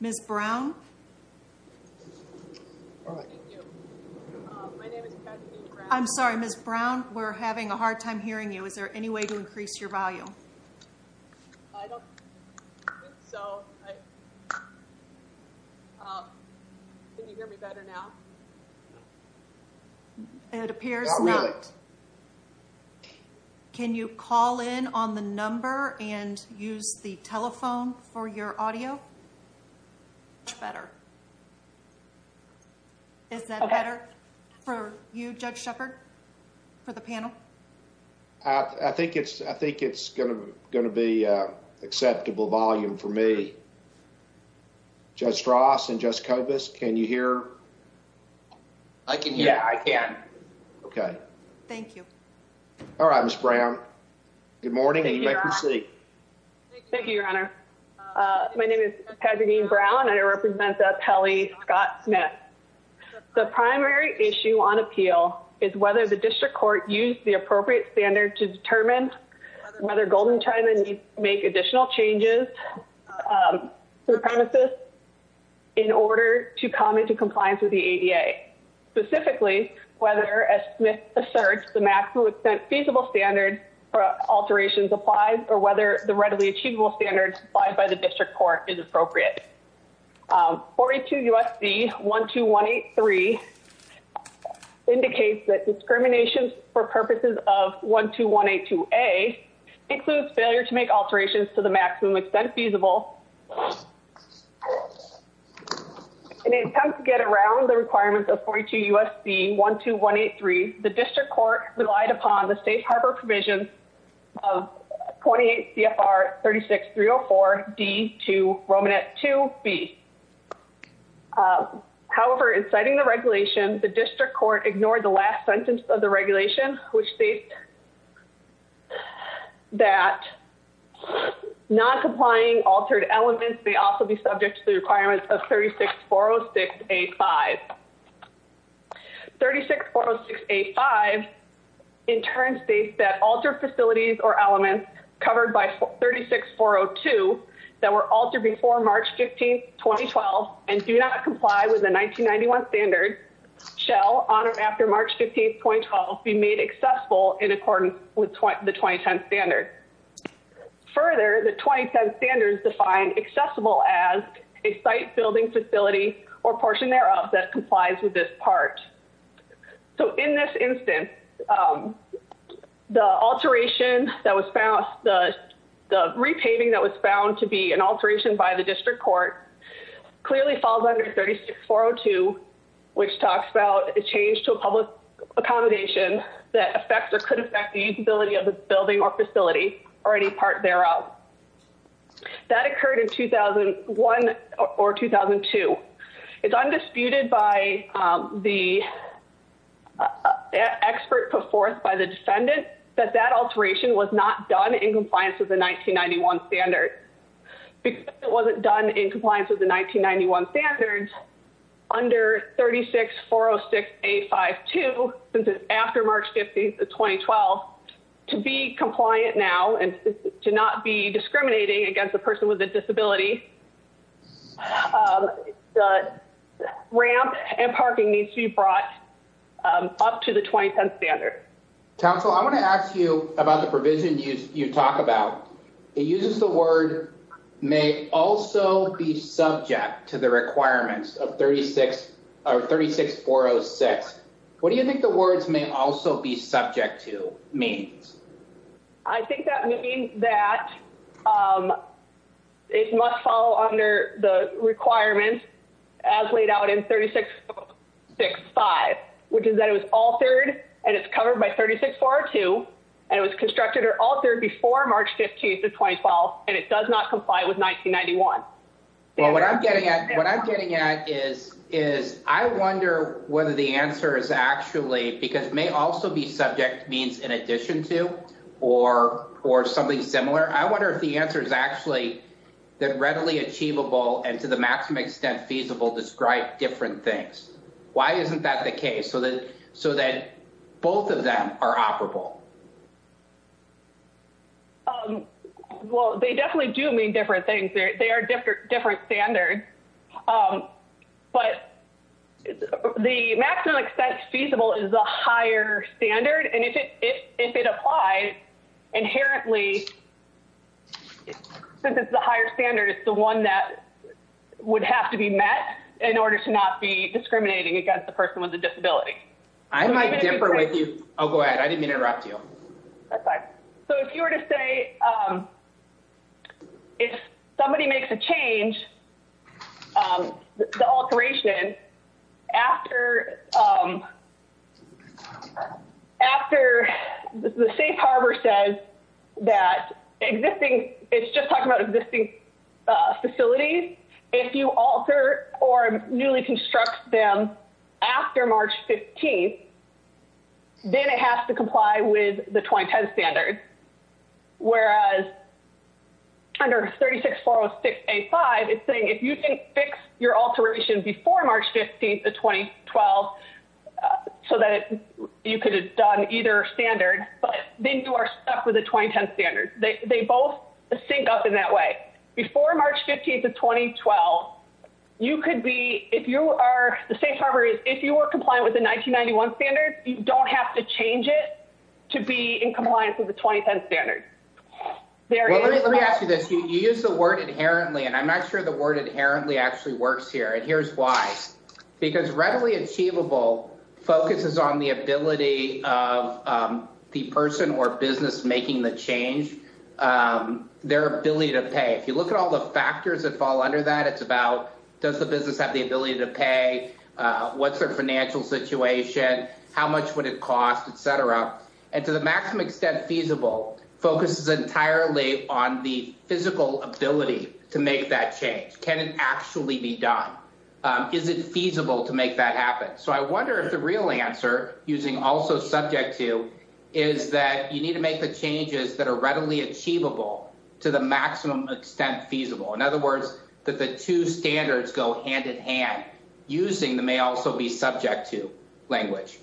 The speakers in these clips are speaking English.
Ms. Brown? I'm sorry, Ms. Brown, we're having a hard time hearing you. Is there any way to increase your volume? It appears not. Can you call in on the number and use the telephone for your audio? Much better. Is that better for you, Judge Shepard, for the panel? I think it's going to be an acceptable volume for me. Judge Strauss and Judge Kobus, can you hear? Yeah, I can. Okay. Thank you. All right, Ms. Brown. Good morning and you may proceed. Thank you, Your Honor. My name is Katherine Brown and I represent the appellee, Scott Smith. The primary issue on appeal is whether the district court used the appropriate standard to determine whether Golden China needs to make additional changes to the premises in order to come into compliance with the ADA. Specifically, whether, as Smith asserts, the maximum extent feasible standard for alterations applies or whether the readily achievable standards applied by the district court is appropriate. 42 U.S.C. 12183 indicates that discrimination for purposes of 12182A includes failure to make alterations to the maximum extent feasible. In an attempt to get around the requirements of 42 U.S.C. 12183, the district court relied upon the safe harbor provision of 28 CFR 36304D to Romanet 2B. However, in citing the regulation, the district court ignored the last sentence of the regulation, which states that non-complying altered elements may also be subject to the requirements of 36406A5. 36406A5 in turn states that altered facilities or elements covered by 36402 that were altered before March 15, 2012 and do not comply with the 1991 standard shall, on or after March 15, 2012, be made accessible in accordance with the 2010 standard. Further, the 2010 standards define accessible as a site, building, facility, or portion thereof that complies with this part. So in this instance, the alteration that was found, the repaving that was found to be an alteration by the district court clearly falls under 36402, which talks about a change to a public accommodation that affects or could affect the usability of the building or facility or any part thereof. That occurred in 2001 or 2002. It's undisputed by the expert put forth by the defendant that that alteration was not done in compliance with the 1991 standard. Because it wasn't done in compliance with the 1991 standards, under 36406A52, since it's after March 15, 2012, to be compliant now and to not be discriminating against a person with a disability, the ramp and parking needs to be brought up to the 2010 standard. Council, I want to ask you about the provision you talk about. It uses the word may also be subject to the requirements of 36406. What do you think the words may also be subject to means? I think that means that it must follow under the requirements as laid out in 36605, which is that it was altered, and it's covered by 36402, and it was constructed or altered before March 15, 2012, and it does not comply with 1991. What I'm getting at is I wonder whether the answer is actually because may also be subject means in addition to or something similar. I wonder if the answer is actually that readily achievable and to the maximum extent feasible describe different things. Why isn't that the case so that both of them are operable? Well, they definitely do mean different things. They are different standards, but the maximum extent feasible is the higher standard, and if it applies, inherently, since it's the higher standard, it's the one that would have to be met in order to not be discriminating against a person with a disability. I might differ with you. Oh, go ahead. I didn't mean to interrupt you. So if you were to say if somebody makes a change, the alteration after the safe harbor says that existing, it's just talking about existing facilities, if you alter or newly construct them after March 15, then it has to comply with the 2010 standard, whereas under 36406A5, it's saying if you didn't fix your alteration before March 15, 2012, so that you could have done either standard, but then you are stuck with the 2010 standard. They both sync up in that way. Before March 15th of 2012, you could be, if you are, the safe harbor is, if you are compliant with the 1991 standard, you don't have to change it to be in compliance with the 2010 standard. Let me ask you this. You use the word inherently, and I'm not sure the word inherently actually works here, and here's why. Because readily achievable focuses on the ability of the person or business making the change, their ability to pay. If you look at all the factors that fall under that, it's about does the business have the ability to pay, what's their financial situation, how much would it cost, et cetera. And to the maximum extent feasible focuses entirely on the physical ability to make that change. Can it actually be done? Is it feasible to make that happen? So I wonder if the real answer, using also subject to, is that you need to make the changes that are readily achievable to the maximum extent feasible. In other words, that the two standards go hand in hand, using the may also be subject to language.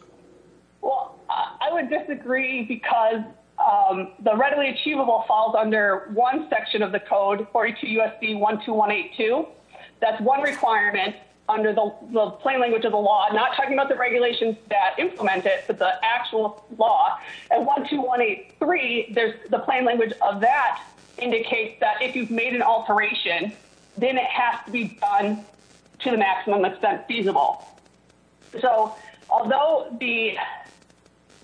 Well, I would disagree because the readily achievable falls under one section of the code, 42 U.S.C. 12182. That's one requirement under the plain language of the law. I'm not talking about the regulations that implement it, but the actual law. And 12183, the plain language of that indicates that if you've made an alteration, then it has to be done to the maximum extent feasible. So although the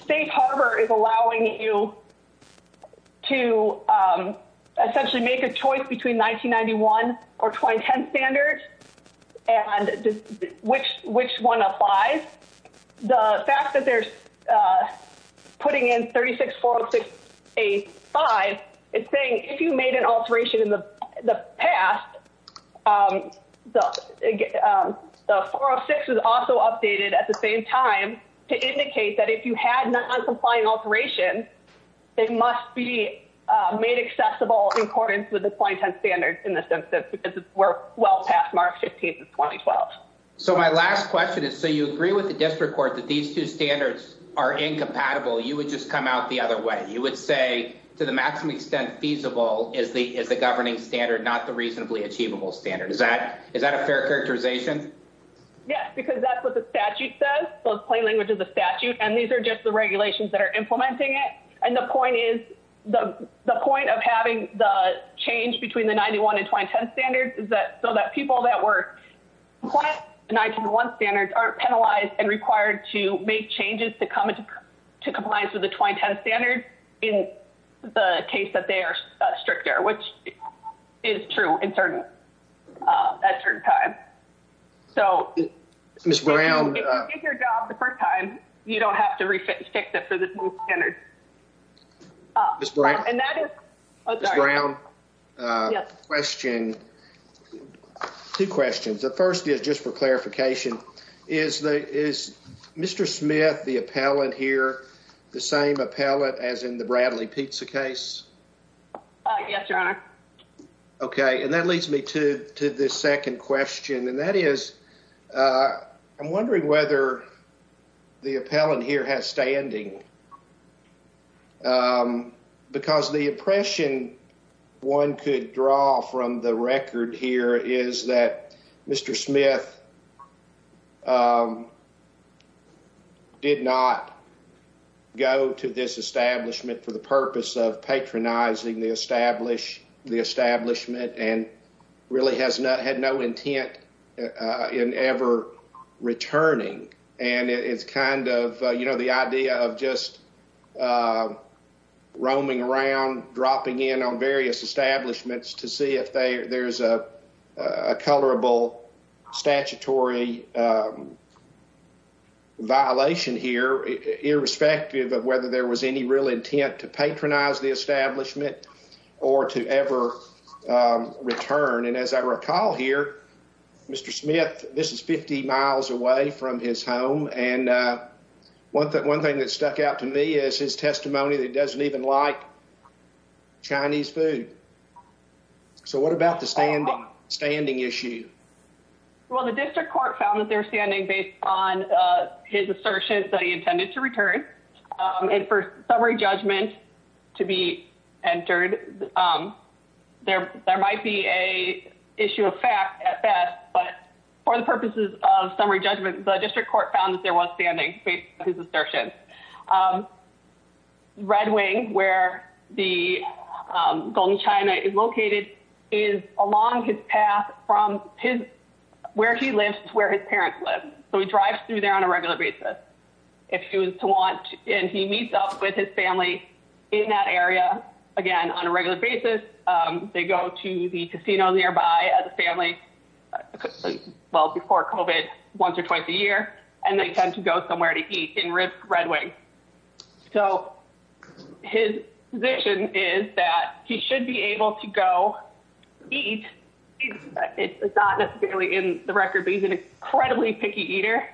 state harbor is allowing you to essentially make a choice between 1991 or 2010 standards and which one applies, the fact that they're putting in 36406A5 is saying if you made an alteration in the past, the 406 is also updated at the same time to indicate that if you had an uncomplying alteration, it must be made accessible in accordance with the 2010 standards in this instance because it's well past March 15th of 2012. So my last question is, so you agree with the district court that these two standards are incompatible. You would just come out the other way. You would say to the maximum extent feasible is the governing standard, not the reasonably achievable standard. Is that a fair characterization? Yes, because that's what the statute says. So the plain language of the statute. And these are just the regulations that are implementing it. And the point is, the point of having the change between the 91 and 2010 standards is that so that people that were compliant with the 1991 standards aren't penalized and required to make changes to come into compliance with the 2010 standards in the case that they are stricter, which is true in certain, at certain times. So, if you get your job the first time, you don't have to re-fix it for this new standard. Ms. Brown, two questions. The first is just for clarification. Is Mr. Smith, the appellate here, the same appellate as in the Bradley Pizza case? Yes, Your Honor. Okay, and that leads me to the second question. And that is, I'm wondering whether the appellant here has standing. Because the impression one could draw from the record here is that Mr. Smith did not go to this establishment for the purpose of patronizing the establishment and really had no intent in ever returning. And it's kind of, you know, the idea of just roaming around, dropping in on various establishments to see if there's a colorable statutory violation here, irrespective of whether there was any real intent to patronize the establishment or to ever return. And as I recall here, Mr. Smith, this is 50 miles away from his home. And one thing that stuck out to me is his testimony that he doesn't even like Chinese food. So, what about the standing issue? Well, the district court found that they were standing based on his assertion that he intended to return. And for summary judgment to be entered, there might be an issue of fact at best. But for the purposes of summary judgment, the district court found that there was standing based on his assertion. Red Wing, where the Golden China is located, is along his path from where he lives to where his parents live. So he drives through there on a regular basis if he was to want. And he meets up with his family in that area again on a regular basis. They go to the casino nearby as a family, well, before COVID, once or twice a year. And they tend to go somewhere to eat in Red Wing. So his position is that he should be able to go eat. It's not necessarily in the record, but he's an incredibly picky eater.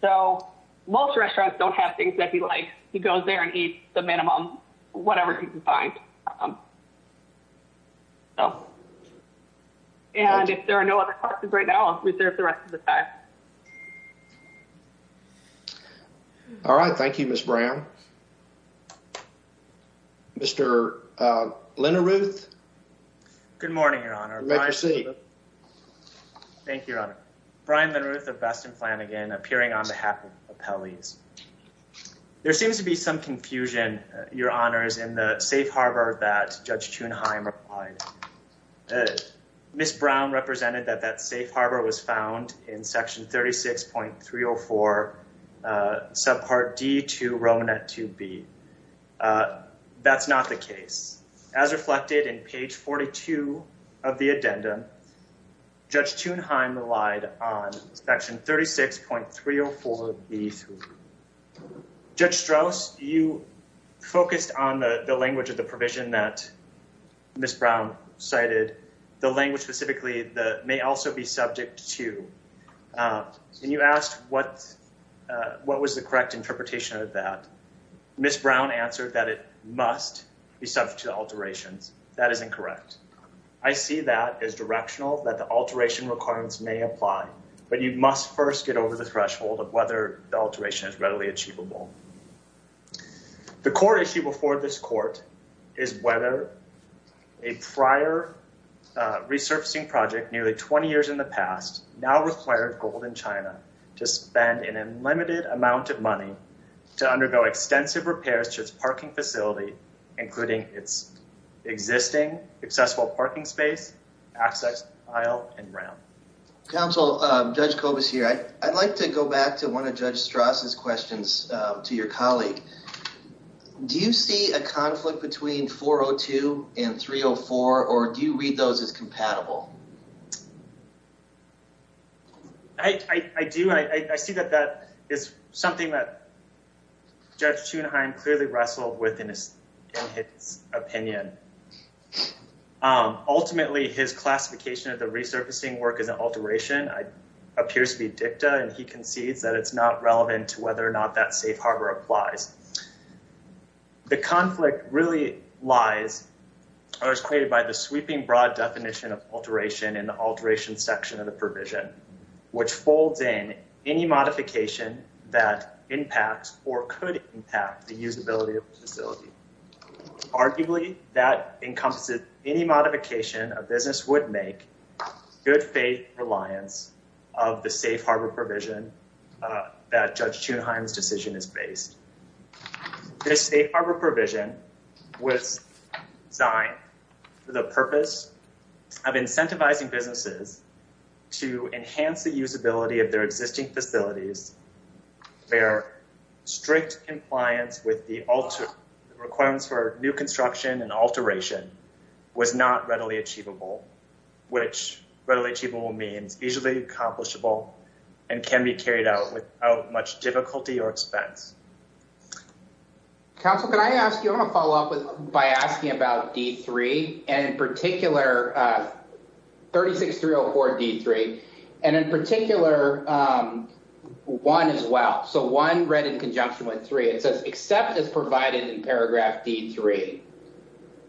So most restaurants don't have things that he likes. He goes there and eats the minimum, whatever he can find. And if there are no other questions right now, I'll reserve the rest of the time. All right. Thank you, Ms. Brown. Mr. Linderuth. Good morning, Your Honor. Make your seat. Thank you, Your Honor. Brian Linderuth of Baston Flanagan, appearing on behalf of Appellees. There seems to be some confusion, Your Honors, in the safe harbor that Judge Thunheim replied. Ms. Brown represented that that safe harbor was found in section 36.304, subpart D to Roman at 2B. That's not the case. As reflected in page 42 of the addendum, Judge Thunheim relied on section 36.304B3. Judge Strauss, you focused on the language of the provision that Ms. Brown cited, the language specifically that may also be subject to. And you asked what was the correct interpretation of that. Ms. Brown answered that it must be subject to alterations. That is incorrect. I see that as directional, that the alteration requirements may apply. But you must first get over the threshold of whether the alteration is readily achievable. The core issue before this court is whether a prior resurfacing project, nearly 20 years in the past, now required Golden China to spend an unlimited amount of money to undergo extensive repairs to its parking facility, including its existing accessible parking space, access aisle, and ramp. Counsel, Judge Kobus here. I'd like to go back to one of Judge Strauss's questions to your colleague. Do you see a conflict between 402 and 304, or do you read those as compatible? I do. I see that that is something that Judge Thunheim clearly wrestled with in his opinion. Ultimately, his classification of the resurfacing work as an alteration appears to be dicta, and he concedes that it's not relevant to whether or not that safe harbor applies. The conflict really lies or is created by the sweeping broad definition of alteration in the alteration section of the provision, which folds in any modification that impacts or could impact the usability of the facility. Arguably, that encompasses any modification a business would make, good faith reliance of the safe harbor provision that Judge Thunheim's decision is based. This safe harbor provision was designed for the purpose of incentivizing businesses to enhance the usability of their existing facilities, where strict compliance with the requirements for new construction and alteration was not readily achievable, which readily achievable means easily accomplishable and can be carried out without much difficulty or expense. Counsel, can I ask you, I'm going to follow up by asking about D3, and in particular 36304D3, and in particular one as well. So one read in conjunction with three, it says, except as provided in paragraph D3,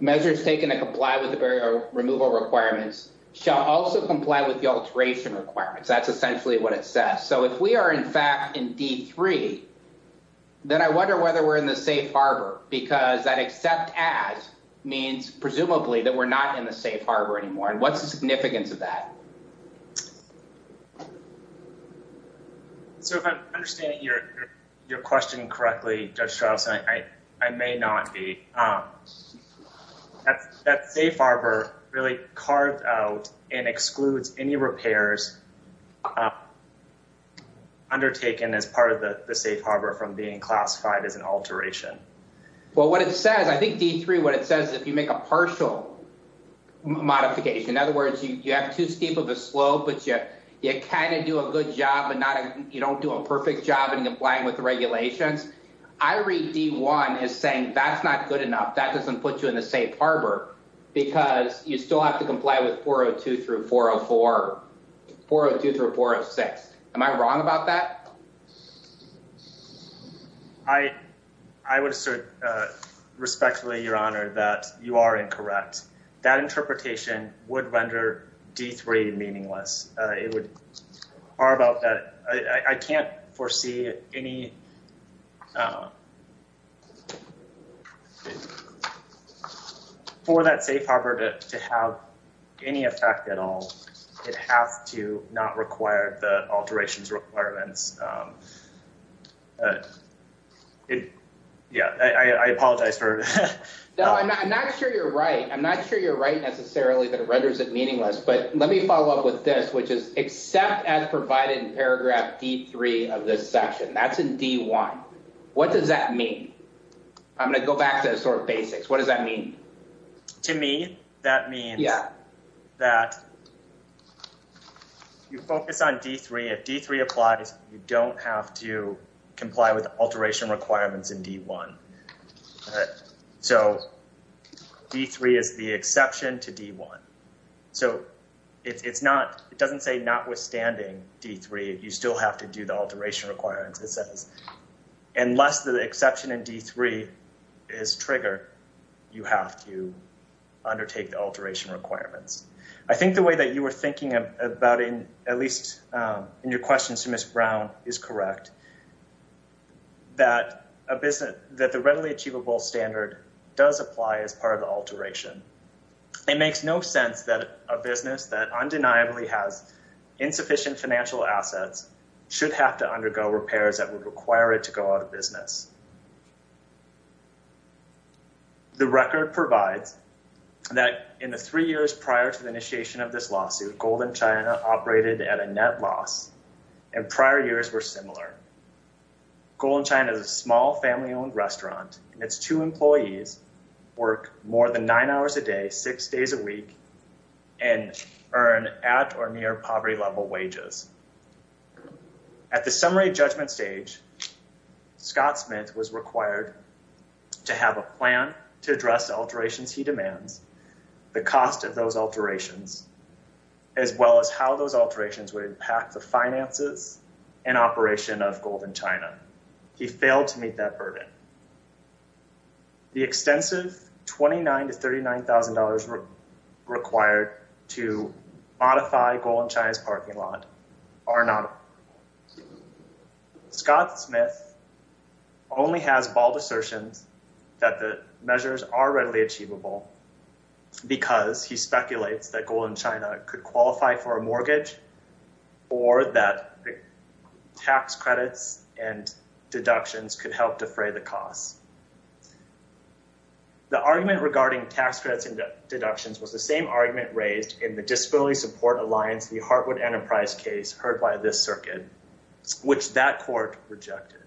measures taken to comply with the removal requirements shall also comply with the alteration requirements. That's essentially what it says. So if we are, in fact, in D3, then I wonder whether we're in the safe harbor, because that except as means presumably that we're not in the safe harbor anymore. What's the significance of that? So if I'm understanding your question correctly, Judge Strauss, I may not be. That safe harbor really carved out and excludes any repairs undertaken as part of the safe harbor from being classified as an alteration. Well, what it says, I think D3, what it says is if you make a partial modification, in other words, you have two steep of a slope, but you kind of do a good job, but you don't do a perfect job in complying with the regulations, I read D1 as saying that's not good enough, that doesn't put you in the safe harbor, because you still have to comply with 402 through 404, 402 through 406. Am I wrong about that? I would assert respectfully, Your Honor, that you are incorrect. That interpretation would render D3 meaningless. It would, or about that, I can't foresee any, for that safe harbor to have any effect at all. It has to not require the alterations requirements. Yeah, I apologize for. No, I'm not sure you're right. I'm not sure you're right necessarily that it renders it meaningless. But let me follow up with this, which is except as provided in paragraph D3 of this section. That's in D1. What does that mean? I'm going to go back to the sort of basics. What does that mean? To me, that means that you focus on D3. If D3 applies, you don't have to comply with alteration requirements in D1. So D3 is the exception to D1. So it's not, it doesn't say notwithstanding D3, you still have to do the alteration requirements. It says, unless the exception in D3 is triggered, you have to undertake the alteration requirements. I think the way that you were thinking about it, at least in your question to Ms. Brown, is correct. That a business, that the readily achievable standard does apply as part of the alteration. It makes no sense that a business that undeniably has insufficient financial assets should have to undergo repairs that would require it to go out of business. The record provides that in the three years prior to the initiation of this lawsuit, Golden China operated at a net loss. Golden China is a small family-owned restaurant, and its two employees work more than nine hours a day, six days a week, and earn at or near poverty-level wages. At the summary judgment stage, Scott Smith was required to have a plan to address alterations he demands, the cost of those alterations, as well as how those alterations would impact the finances and operation of Golden China. He failed to meet that burden. The extensive $29,000 to $39,000 required to modify Golden China's parking lot are not. Scott Smith only has bald assertions that the measures are readily achievable because he speculates that Golden China could qualify for a mortgage or that tax credits and deductions could help defray the costs. The argument regarding tax credits and deductions was the same argument raised in the Disability Support Alliance v. Hartwood Enterprise case heard by this circuit, which that court rejected.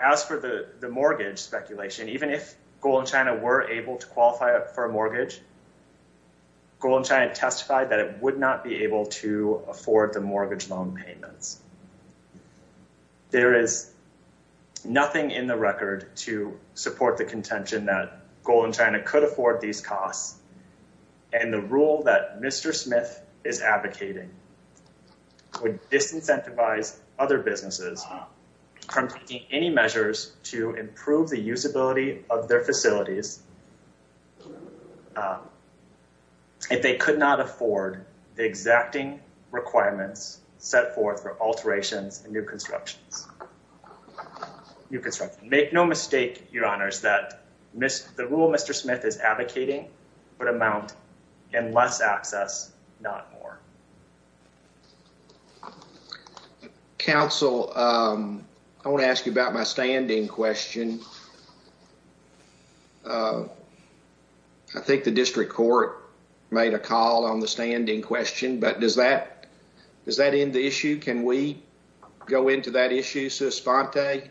As for the mortgage speculation, even if Golden China were able to qualify for a mortgage, Golden China testified that it would not be able to afford the mortgage loan payments. There is nothing in the record to support the contention that Golden China could afford these costs, and the rule that Mr. Smith is advocating would disincentivize other businesses from taking any measures to improve the usability of their facilities. If they could not afford the exacting requirements set forth for alterations and new constructions, make no mistake, Your Honors, that the rule Mr. Smith is advocating would amount in less access, not more. Counsel, I want to ask you about my standing question. I think the district court made a call on the standing question, but does that does that end the issue? Can we go into that issue, Suspante?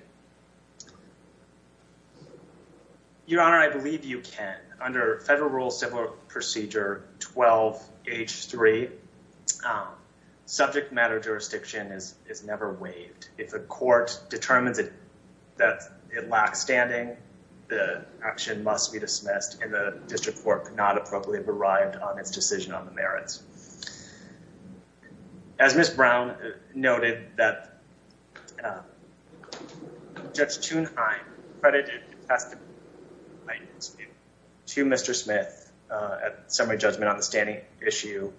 Your Honor, I believe you can. Under Federal Rules Civil Procedure 12H3, subject matter jurisdiction is never waived. If a court determines that it lacks standing, the action must be dismissed, and the district court could not appropriately have arrived on its decision on the merits. As Ms. Brown noted, that Judge Thunheim credited the testimony to Mr. Smith at summary judgment on the standing issue.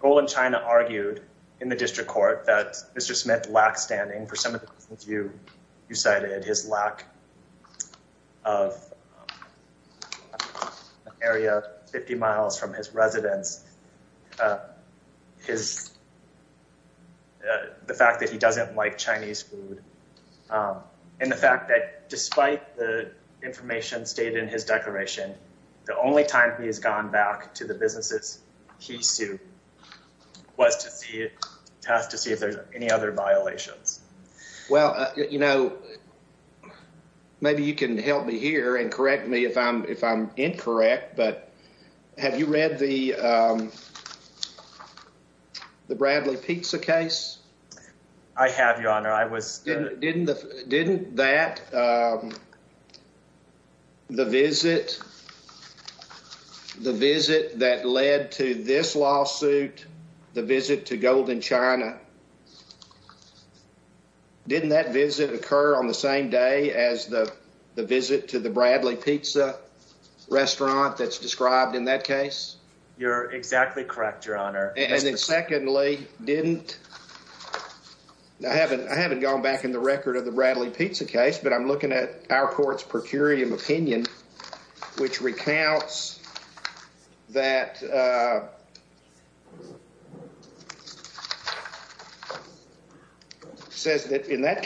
Golden China argued in the district court that Mr. Smith lacks standing for some of the reasons you cited, his lack of an area 50 miles from his residence, the fact that he doesn't like Chinese food, and the fact that despite the information stated in his declaration, the only time he has gone back to the businesses he sued was to see if there's any other violations. Well, you know, maybe you can help me here and correct me if I'm incorrect, but have you read the Bradley Pizza case? I have, Your Honor. I was... Didn't that, the visit that led to this lawsuit, the visit to Golden China, didn't that visit occur on the same day as the visit to the Bradley Pizza restaurant that's described in that case? You're exactly correct, Your Honor. And then secondly, didn't... I haven't gone back in the record of the Bradley Pizza case, but I'm looking at our court's per curiam opinion, which recounts that... And that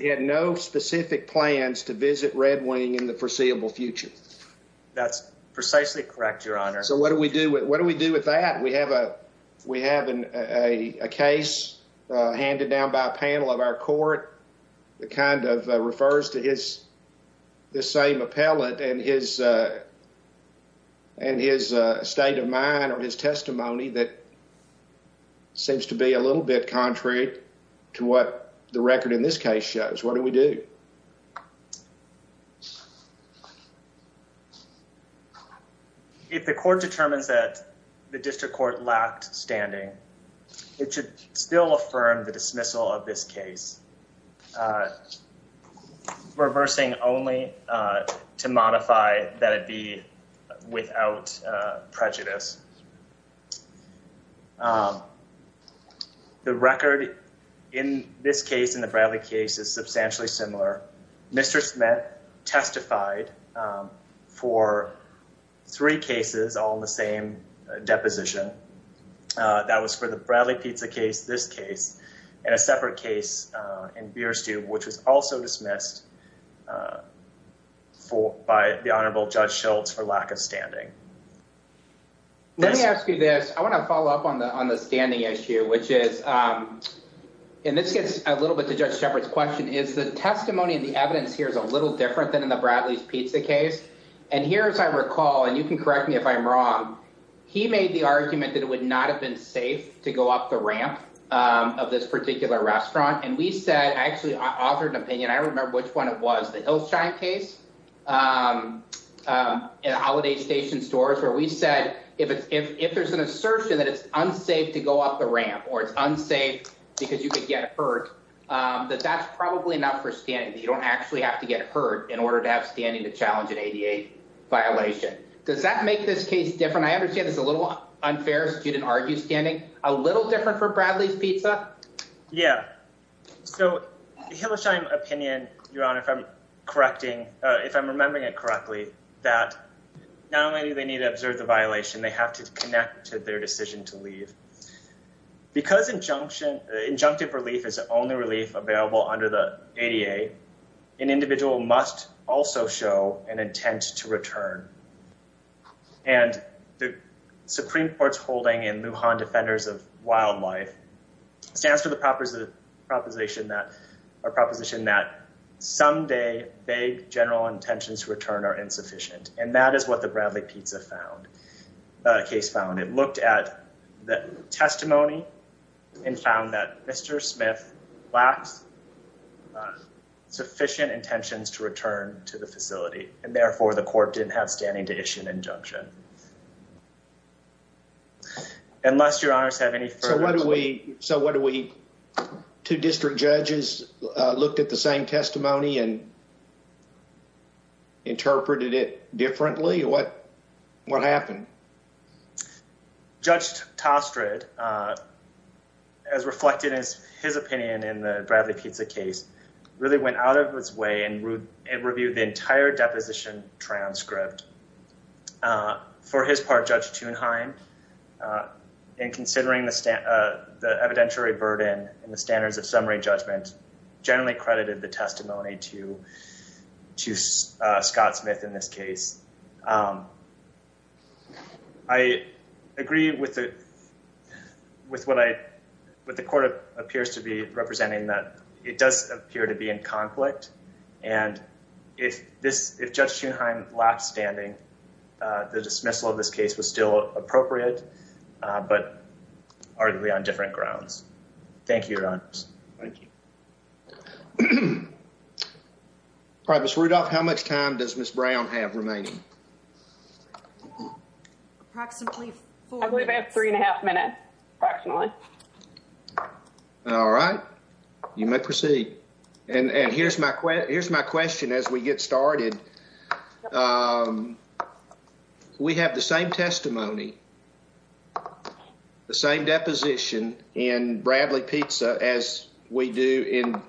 he had no specific plans to visit Red Wing in the foreseeable future. That's precisely correct, Your Honor. So what do we do with that? We have a case handed down by a panel of our court that kind of refers to this same appellate and his state of mind or his testimony that seems to be a little bit contrary to what the record in this case shows. What do we do? If the court determines that the district court lacked standing, it should still affirm the dismissal of this case, reversing only to modify that it be without prejudice. The record in this case and the Bradley case is substantially similar. Mr. Smith testified for three cases, all in the same deposition. That was for the Bradley Pizza case, this case, and a separate case in Beer Stew, which was also dismissed by the Honorable Judge Schultz for lack of standing. Let me ask you this. I want to follow up on the standing issue, which is, and this gets a little bit to Judge Shepard's question, is the testimony and the evidence here is a little different than in the Bradley's Pizza case. And here, as I recall, and you can correct me if I'm wrong, he made the argument that it would not have been safe to go up the ramp of this particular restaurant. And we said, I actually authored an opinion. I remember which one it was, the Hillshine case at Holiday Station Stores, where we said if there's an assertion that it's unsafe to go up the ramp or it's unsafe because you could get hurt, that that's probably enough for standing. You don't actually have to get hurt in order to have standing to challenge an ADA violation. Does that make this case different? I understand it's a little unfair if a student argues standing. A little different for Bradley's Pizza? Yeah. So, Hillshine opinion, Your Honor, if I'm correcting, if I'm remembering it correctly, that not only do they need to observe the violation, they have to connect to their decision to leave. Because injunction, injunctive relief is the only relief available under the ADA, an individual must also show an intent to return. And the Supreme Court's holding in Lujan Defenders of Wildlife stands for the proposition that someday vague general intentions to return are insufficient. And that is what the Bradley Pizza case found. It looked at the testimony and found that Mr. Smith lacks sufficient intentions to return to the facility. And therefore, the court didn't have standing to issue an injunction. Unless Your Honors have any further... So what do we, two district judges looked at the same testimony and interpreted it differently? What happened? Judge Tostred, as reflected as his opinion in the Bradley Pizza case, really went out of his way and reviewed the entire deposition transcript. For his part, Judge Thunheim, in considering the evidentiary burden and the standards of summary judgment, generally credited the testimony to Scott Smith in this case. I agree with what the court appears to be representing, that it does appear to be in conflict. And if Judge Thunheim lacks standing, the dismissal of this case was still appropriate, but arguably on different grounds. Thank you, Your Honors. Thank you. All right, Ms. Rudolph, how much time does Ms. Brown have remaining? Approximately four minutes. I believe I have three and a half minutes, approximately. All right. You may proceed. Here's my question as we get started. We have the same testimony, the same deposition in Bradley Pizza as we do in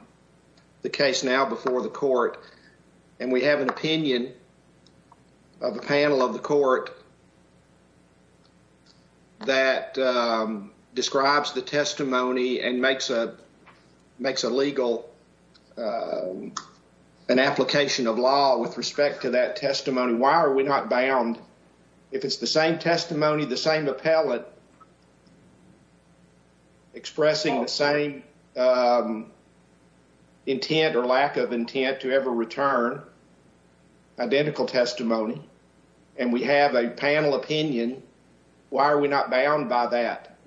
the case now before the court. And we have an opinion of a panel of the court that describes the testimony and makes a legal—an application of law with respect to that testimony. Why are we not bound? If it's the same testimony, the same appellate expressing the same intent or lack of intent to ever return identical testimony, and we have a panel opinion, why are we not bound by that?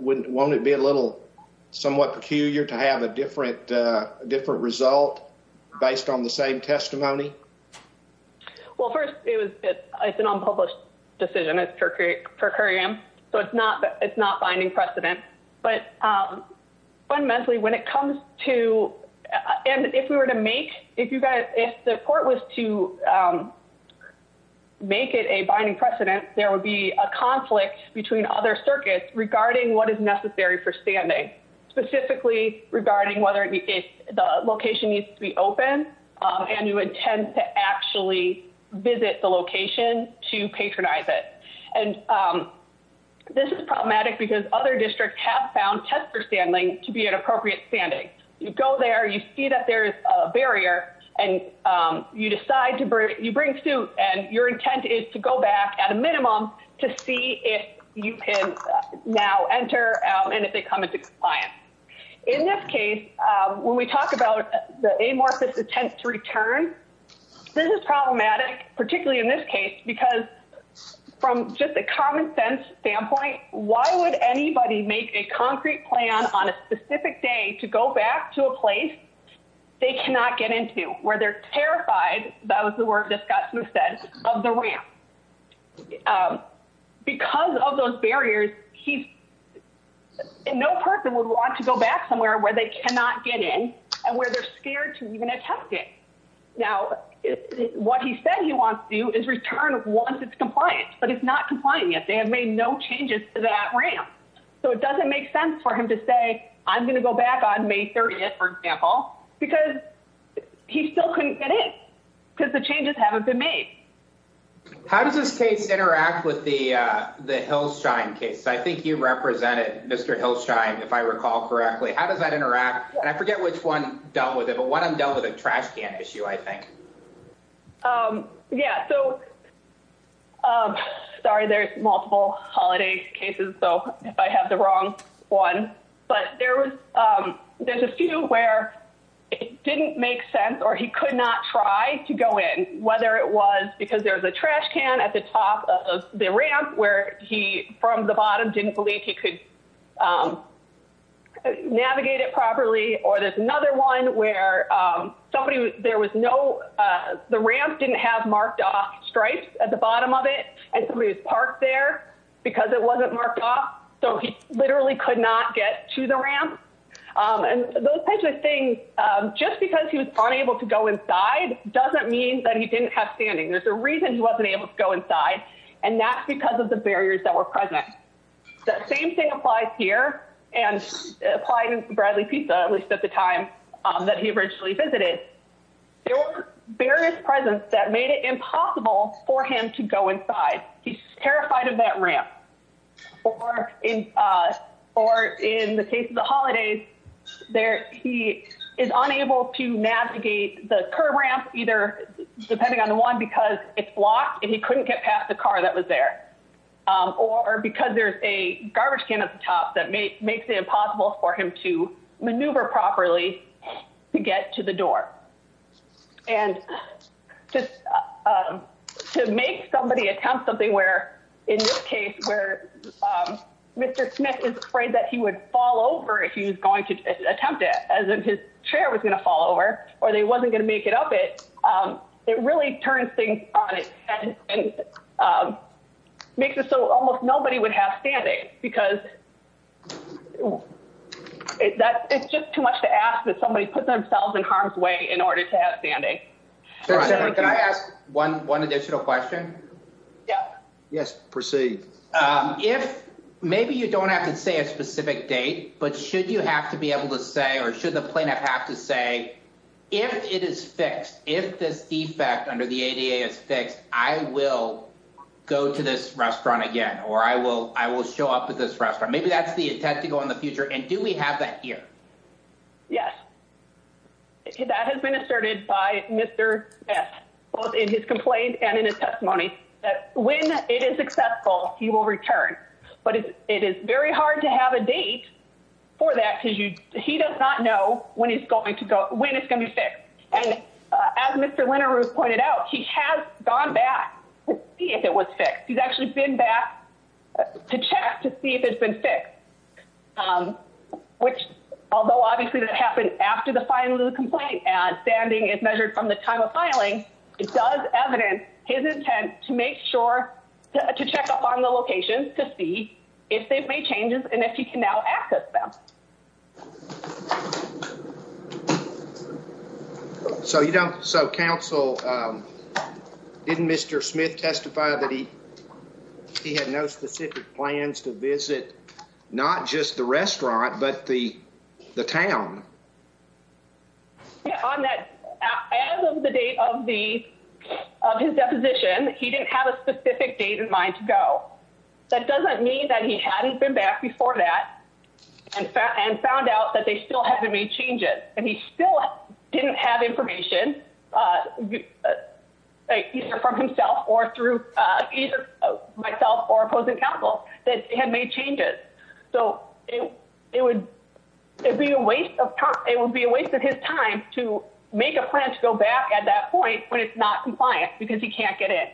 Won't it be a little somewhat peculiar to have a different result based on the same testimony? Well, first, it's an unpublished decision. It's per curiam, so it's not binding precedent. But fundamentally, when it comes to—and if we were to make—if the court was to make it a binding precedent, there would be a conflict between other circuits regarding what is necessary for standing, specifically regarding whether the location needs to be open, and you intend to actually visit the location to patronize it. And this is problematic because other districts have found tester standing to be an appropriate standing. You go there, you see that there's a barrier, and you decide to bring—you bring suit, and your intent is to go back at a minimum to see if you can now enter and if they come into compliance. In this case, when we talk about the amorphous intent to return, this is problematic, particularly in this case, because from just a common-sense standpoint, why would anybody make a concrete plan on a specific day to go back to a place they cannot get into, where they're terrified—that was the word that Scott Smith said—of the ramp? Because of those barriers, he—no person would want to go back somewhere where they cannot get in and where they're scared to even attempt it. Now, what he said he wants to do is return once it's compliant, but it's not compliant yet. They have made no changes to that ramp, so it doesn't make sense for him to say, I'm going to go back on May 30th, for example, because he still couldn't get in because the changes haven't been made. How does this case interact with the Hillshine case? I think you represented Mr. Hillshine, if I recall correctly. How does that interact? And I forget which one dealt with it, but one of them dealt with a trash can issue, I think. Yeah, so—sorry, there's multiple holiday cases, so if I have the wrong one, but there's a few where it didn't make sense or he could not try to go in, whether it was because there was a trash can at the top of the ramp where he, from the bottom, didn't believe he could navigate it properly, or there's another one where somebody, there was no, the ramp didn't have marked off stripes at the bottom of it, and somebody was parked there because it wasn't marked off, so he literally could not get to the ramp. And those types of things, just because he was unable to go inside doesn't mean that he didn't have standing. There's a reason he wasn't able to go inside, and that's because of the barriers that were present. The same thing applies here, and applied in Bradley Pizza, at least at the time that he originally visited. There were various presents that made it impossible for him to go inside. He's terrified of that ramp. Or in the case of the holidays, he is unable to navigate the curb ramp, either depending on the one, because it's blocked and he couldn't get past the car that was there, or because there's a garbage can at the top that makes it impossible for him to maneuver properly to get to the door. And just to make somebody attempt something where, in this case, where Mr. Smith is afraid that he would fall over if he was going to attempt it, as if his chair was going to fall over, or they wasn't going to make it up it, it really turns things on its head and makes it so almost nobody would have standing. Because it's just too much to ask that somebody put themselves in harm's way in order to have standing. Can I ask one additional question? Yep. Yes, proceed. Maybe you don't have to say a specific date, but should you have to be able to say, or should the plaintiff have to say, if it is fixed, if this defect under the ADA is fixed, I will go to this restaurant again, or I will show up at this restaurant. Maybe that's the intent to go in the future. And do we have that here? Yes. That has been asserted by Mr. Smith, both in his complaint and in his testimony, that when it is successful, he will return. But it is very hard to have a date for that, because he does not know when it's going to be fixed. And as Mr. Linerous pointed out, he has gone back to see if it was fixed. He's actually been back to check to see if it's been fixed, which, although obviously that happened after the filing of the complaint and standing is measured from the time of filing, it does evidence his intent to make sure, to check up on the locations to see if they've made changes and if he can now access them. So Council, didn't Mr. Smith testify that he had no specific plans to visit not just the restaurant, but the town? On that, as of the date of his deposition, he didn't have a specific date in mind to go. That doesn't mean that he hadn't been back before that and found out that they still hadn't made changes. And he still didn't have information, either from himself or through myself or opposing counsel, that had made changes. So it would be a waste of time. It would be a waste of his time to make a plan to go back at that point when it's not compliant because he can't get in.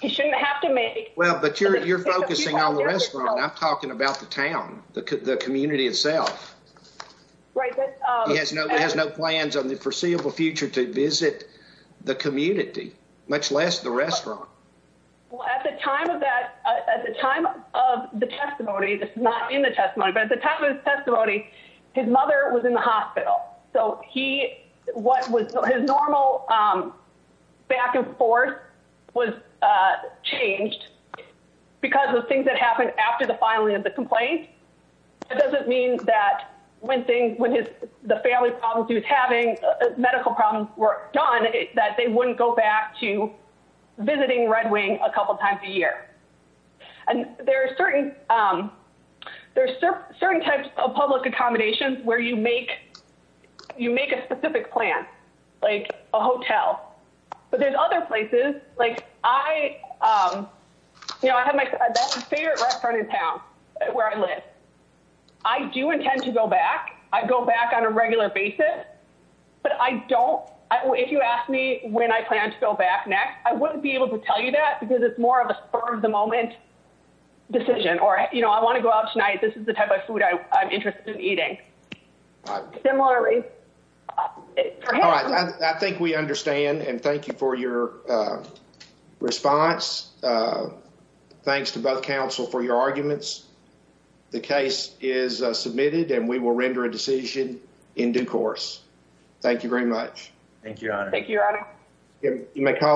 He shouldn't have to make. Well, but you're focusing on the restaurant. I'm talking about the town, the community itself. Right. He has no plans on the foreseeable future to visit the community, much less the restaurant. Well, at the time of that, at the time of the testimony that's not in the testimony, but at the time of his testimony, his mother was in the hospital. So he what was his normal back and forth was changed because of things that happened after the filing of the complaint. It doesn't mean that when things when the family problems he was having medical problems were gone, that they wouldn't go back to visiting Red Wing a couple times a year. And there are certain there are certain types of public accommodations where you make you make a specific plan, like a hotel. But there's other places like I have my favorite restaurant in town where I live. I do intend to go back. I go back on a regular basis, but I don't. If you ask me when I plan to go back next, I wouldn't be able to tell you that because it's more of a spur of the moment decision or I want to go out tonight. This is the type of food I'm interested in eating. Similarly, I think we understand. And thank you for your response. Thanks to both counsel for your arguments. The case is submitted and we will render a decision in due course. Thank you very much. Thank you. You may call her now.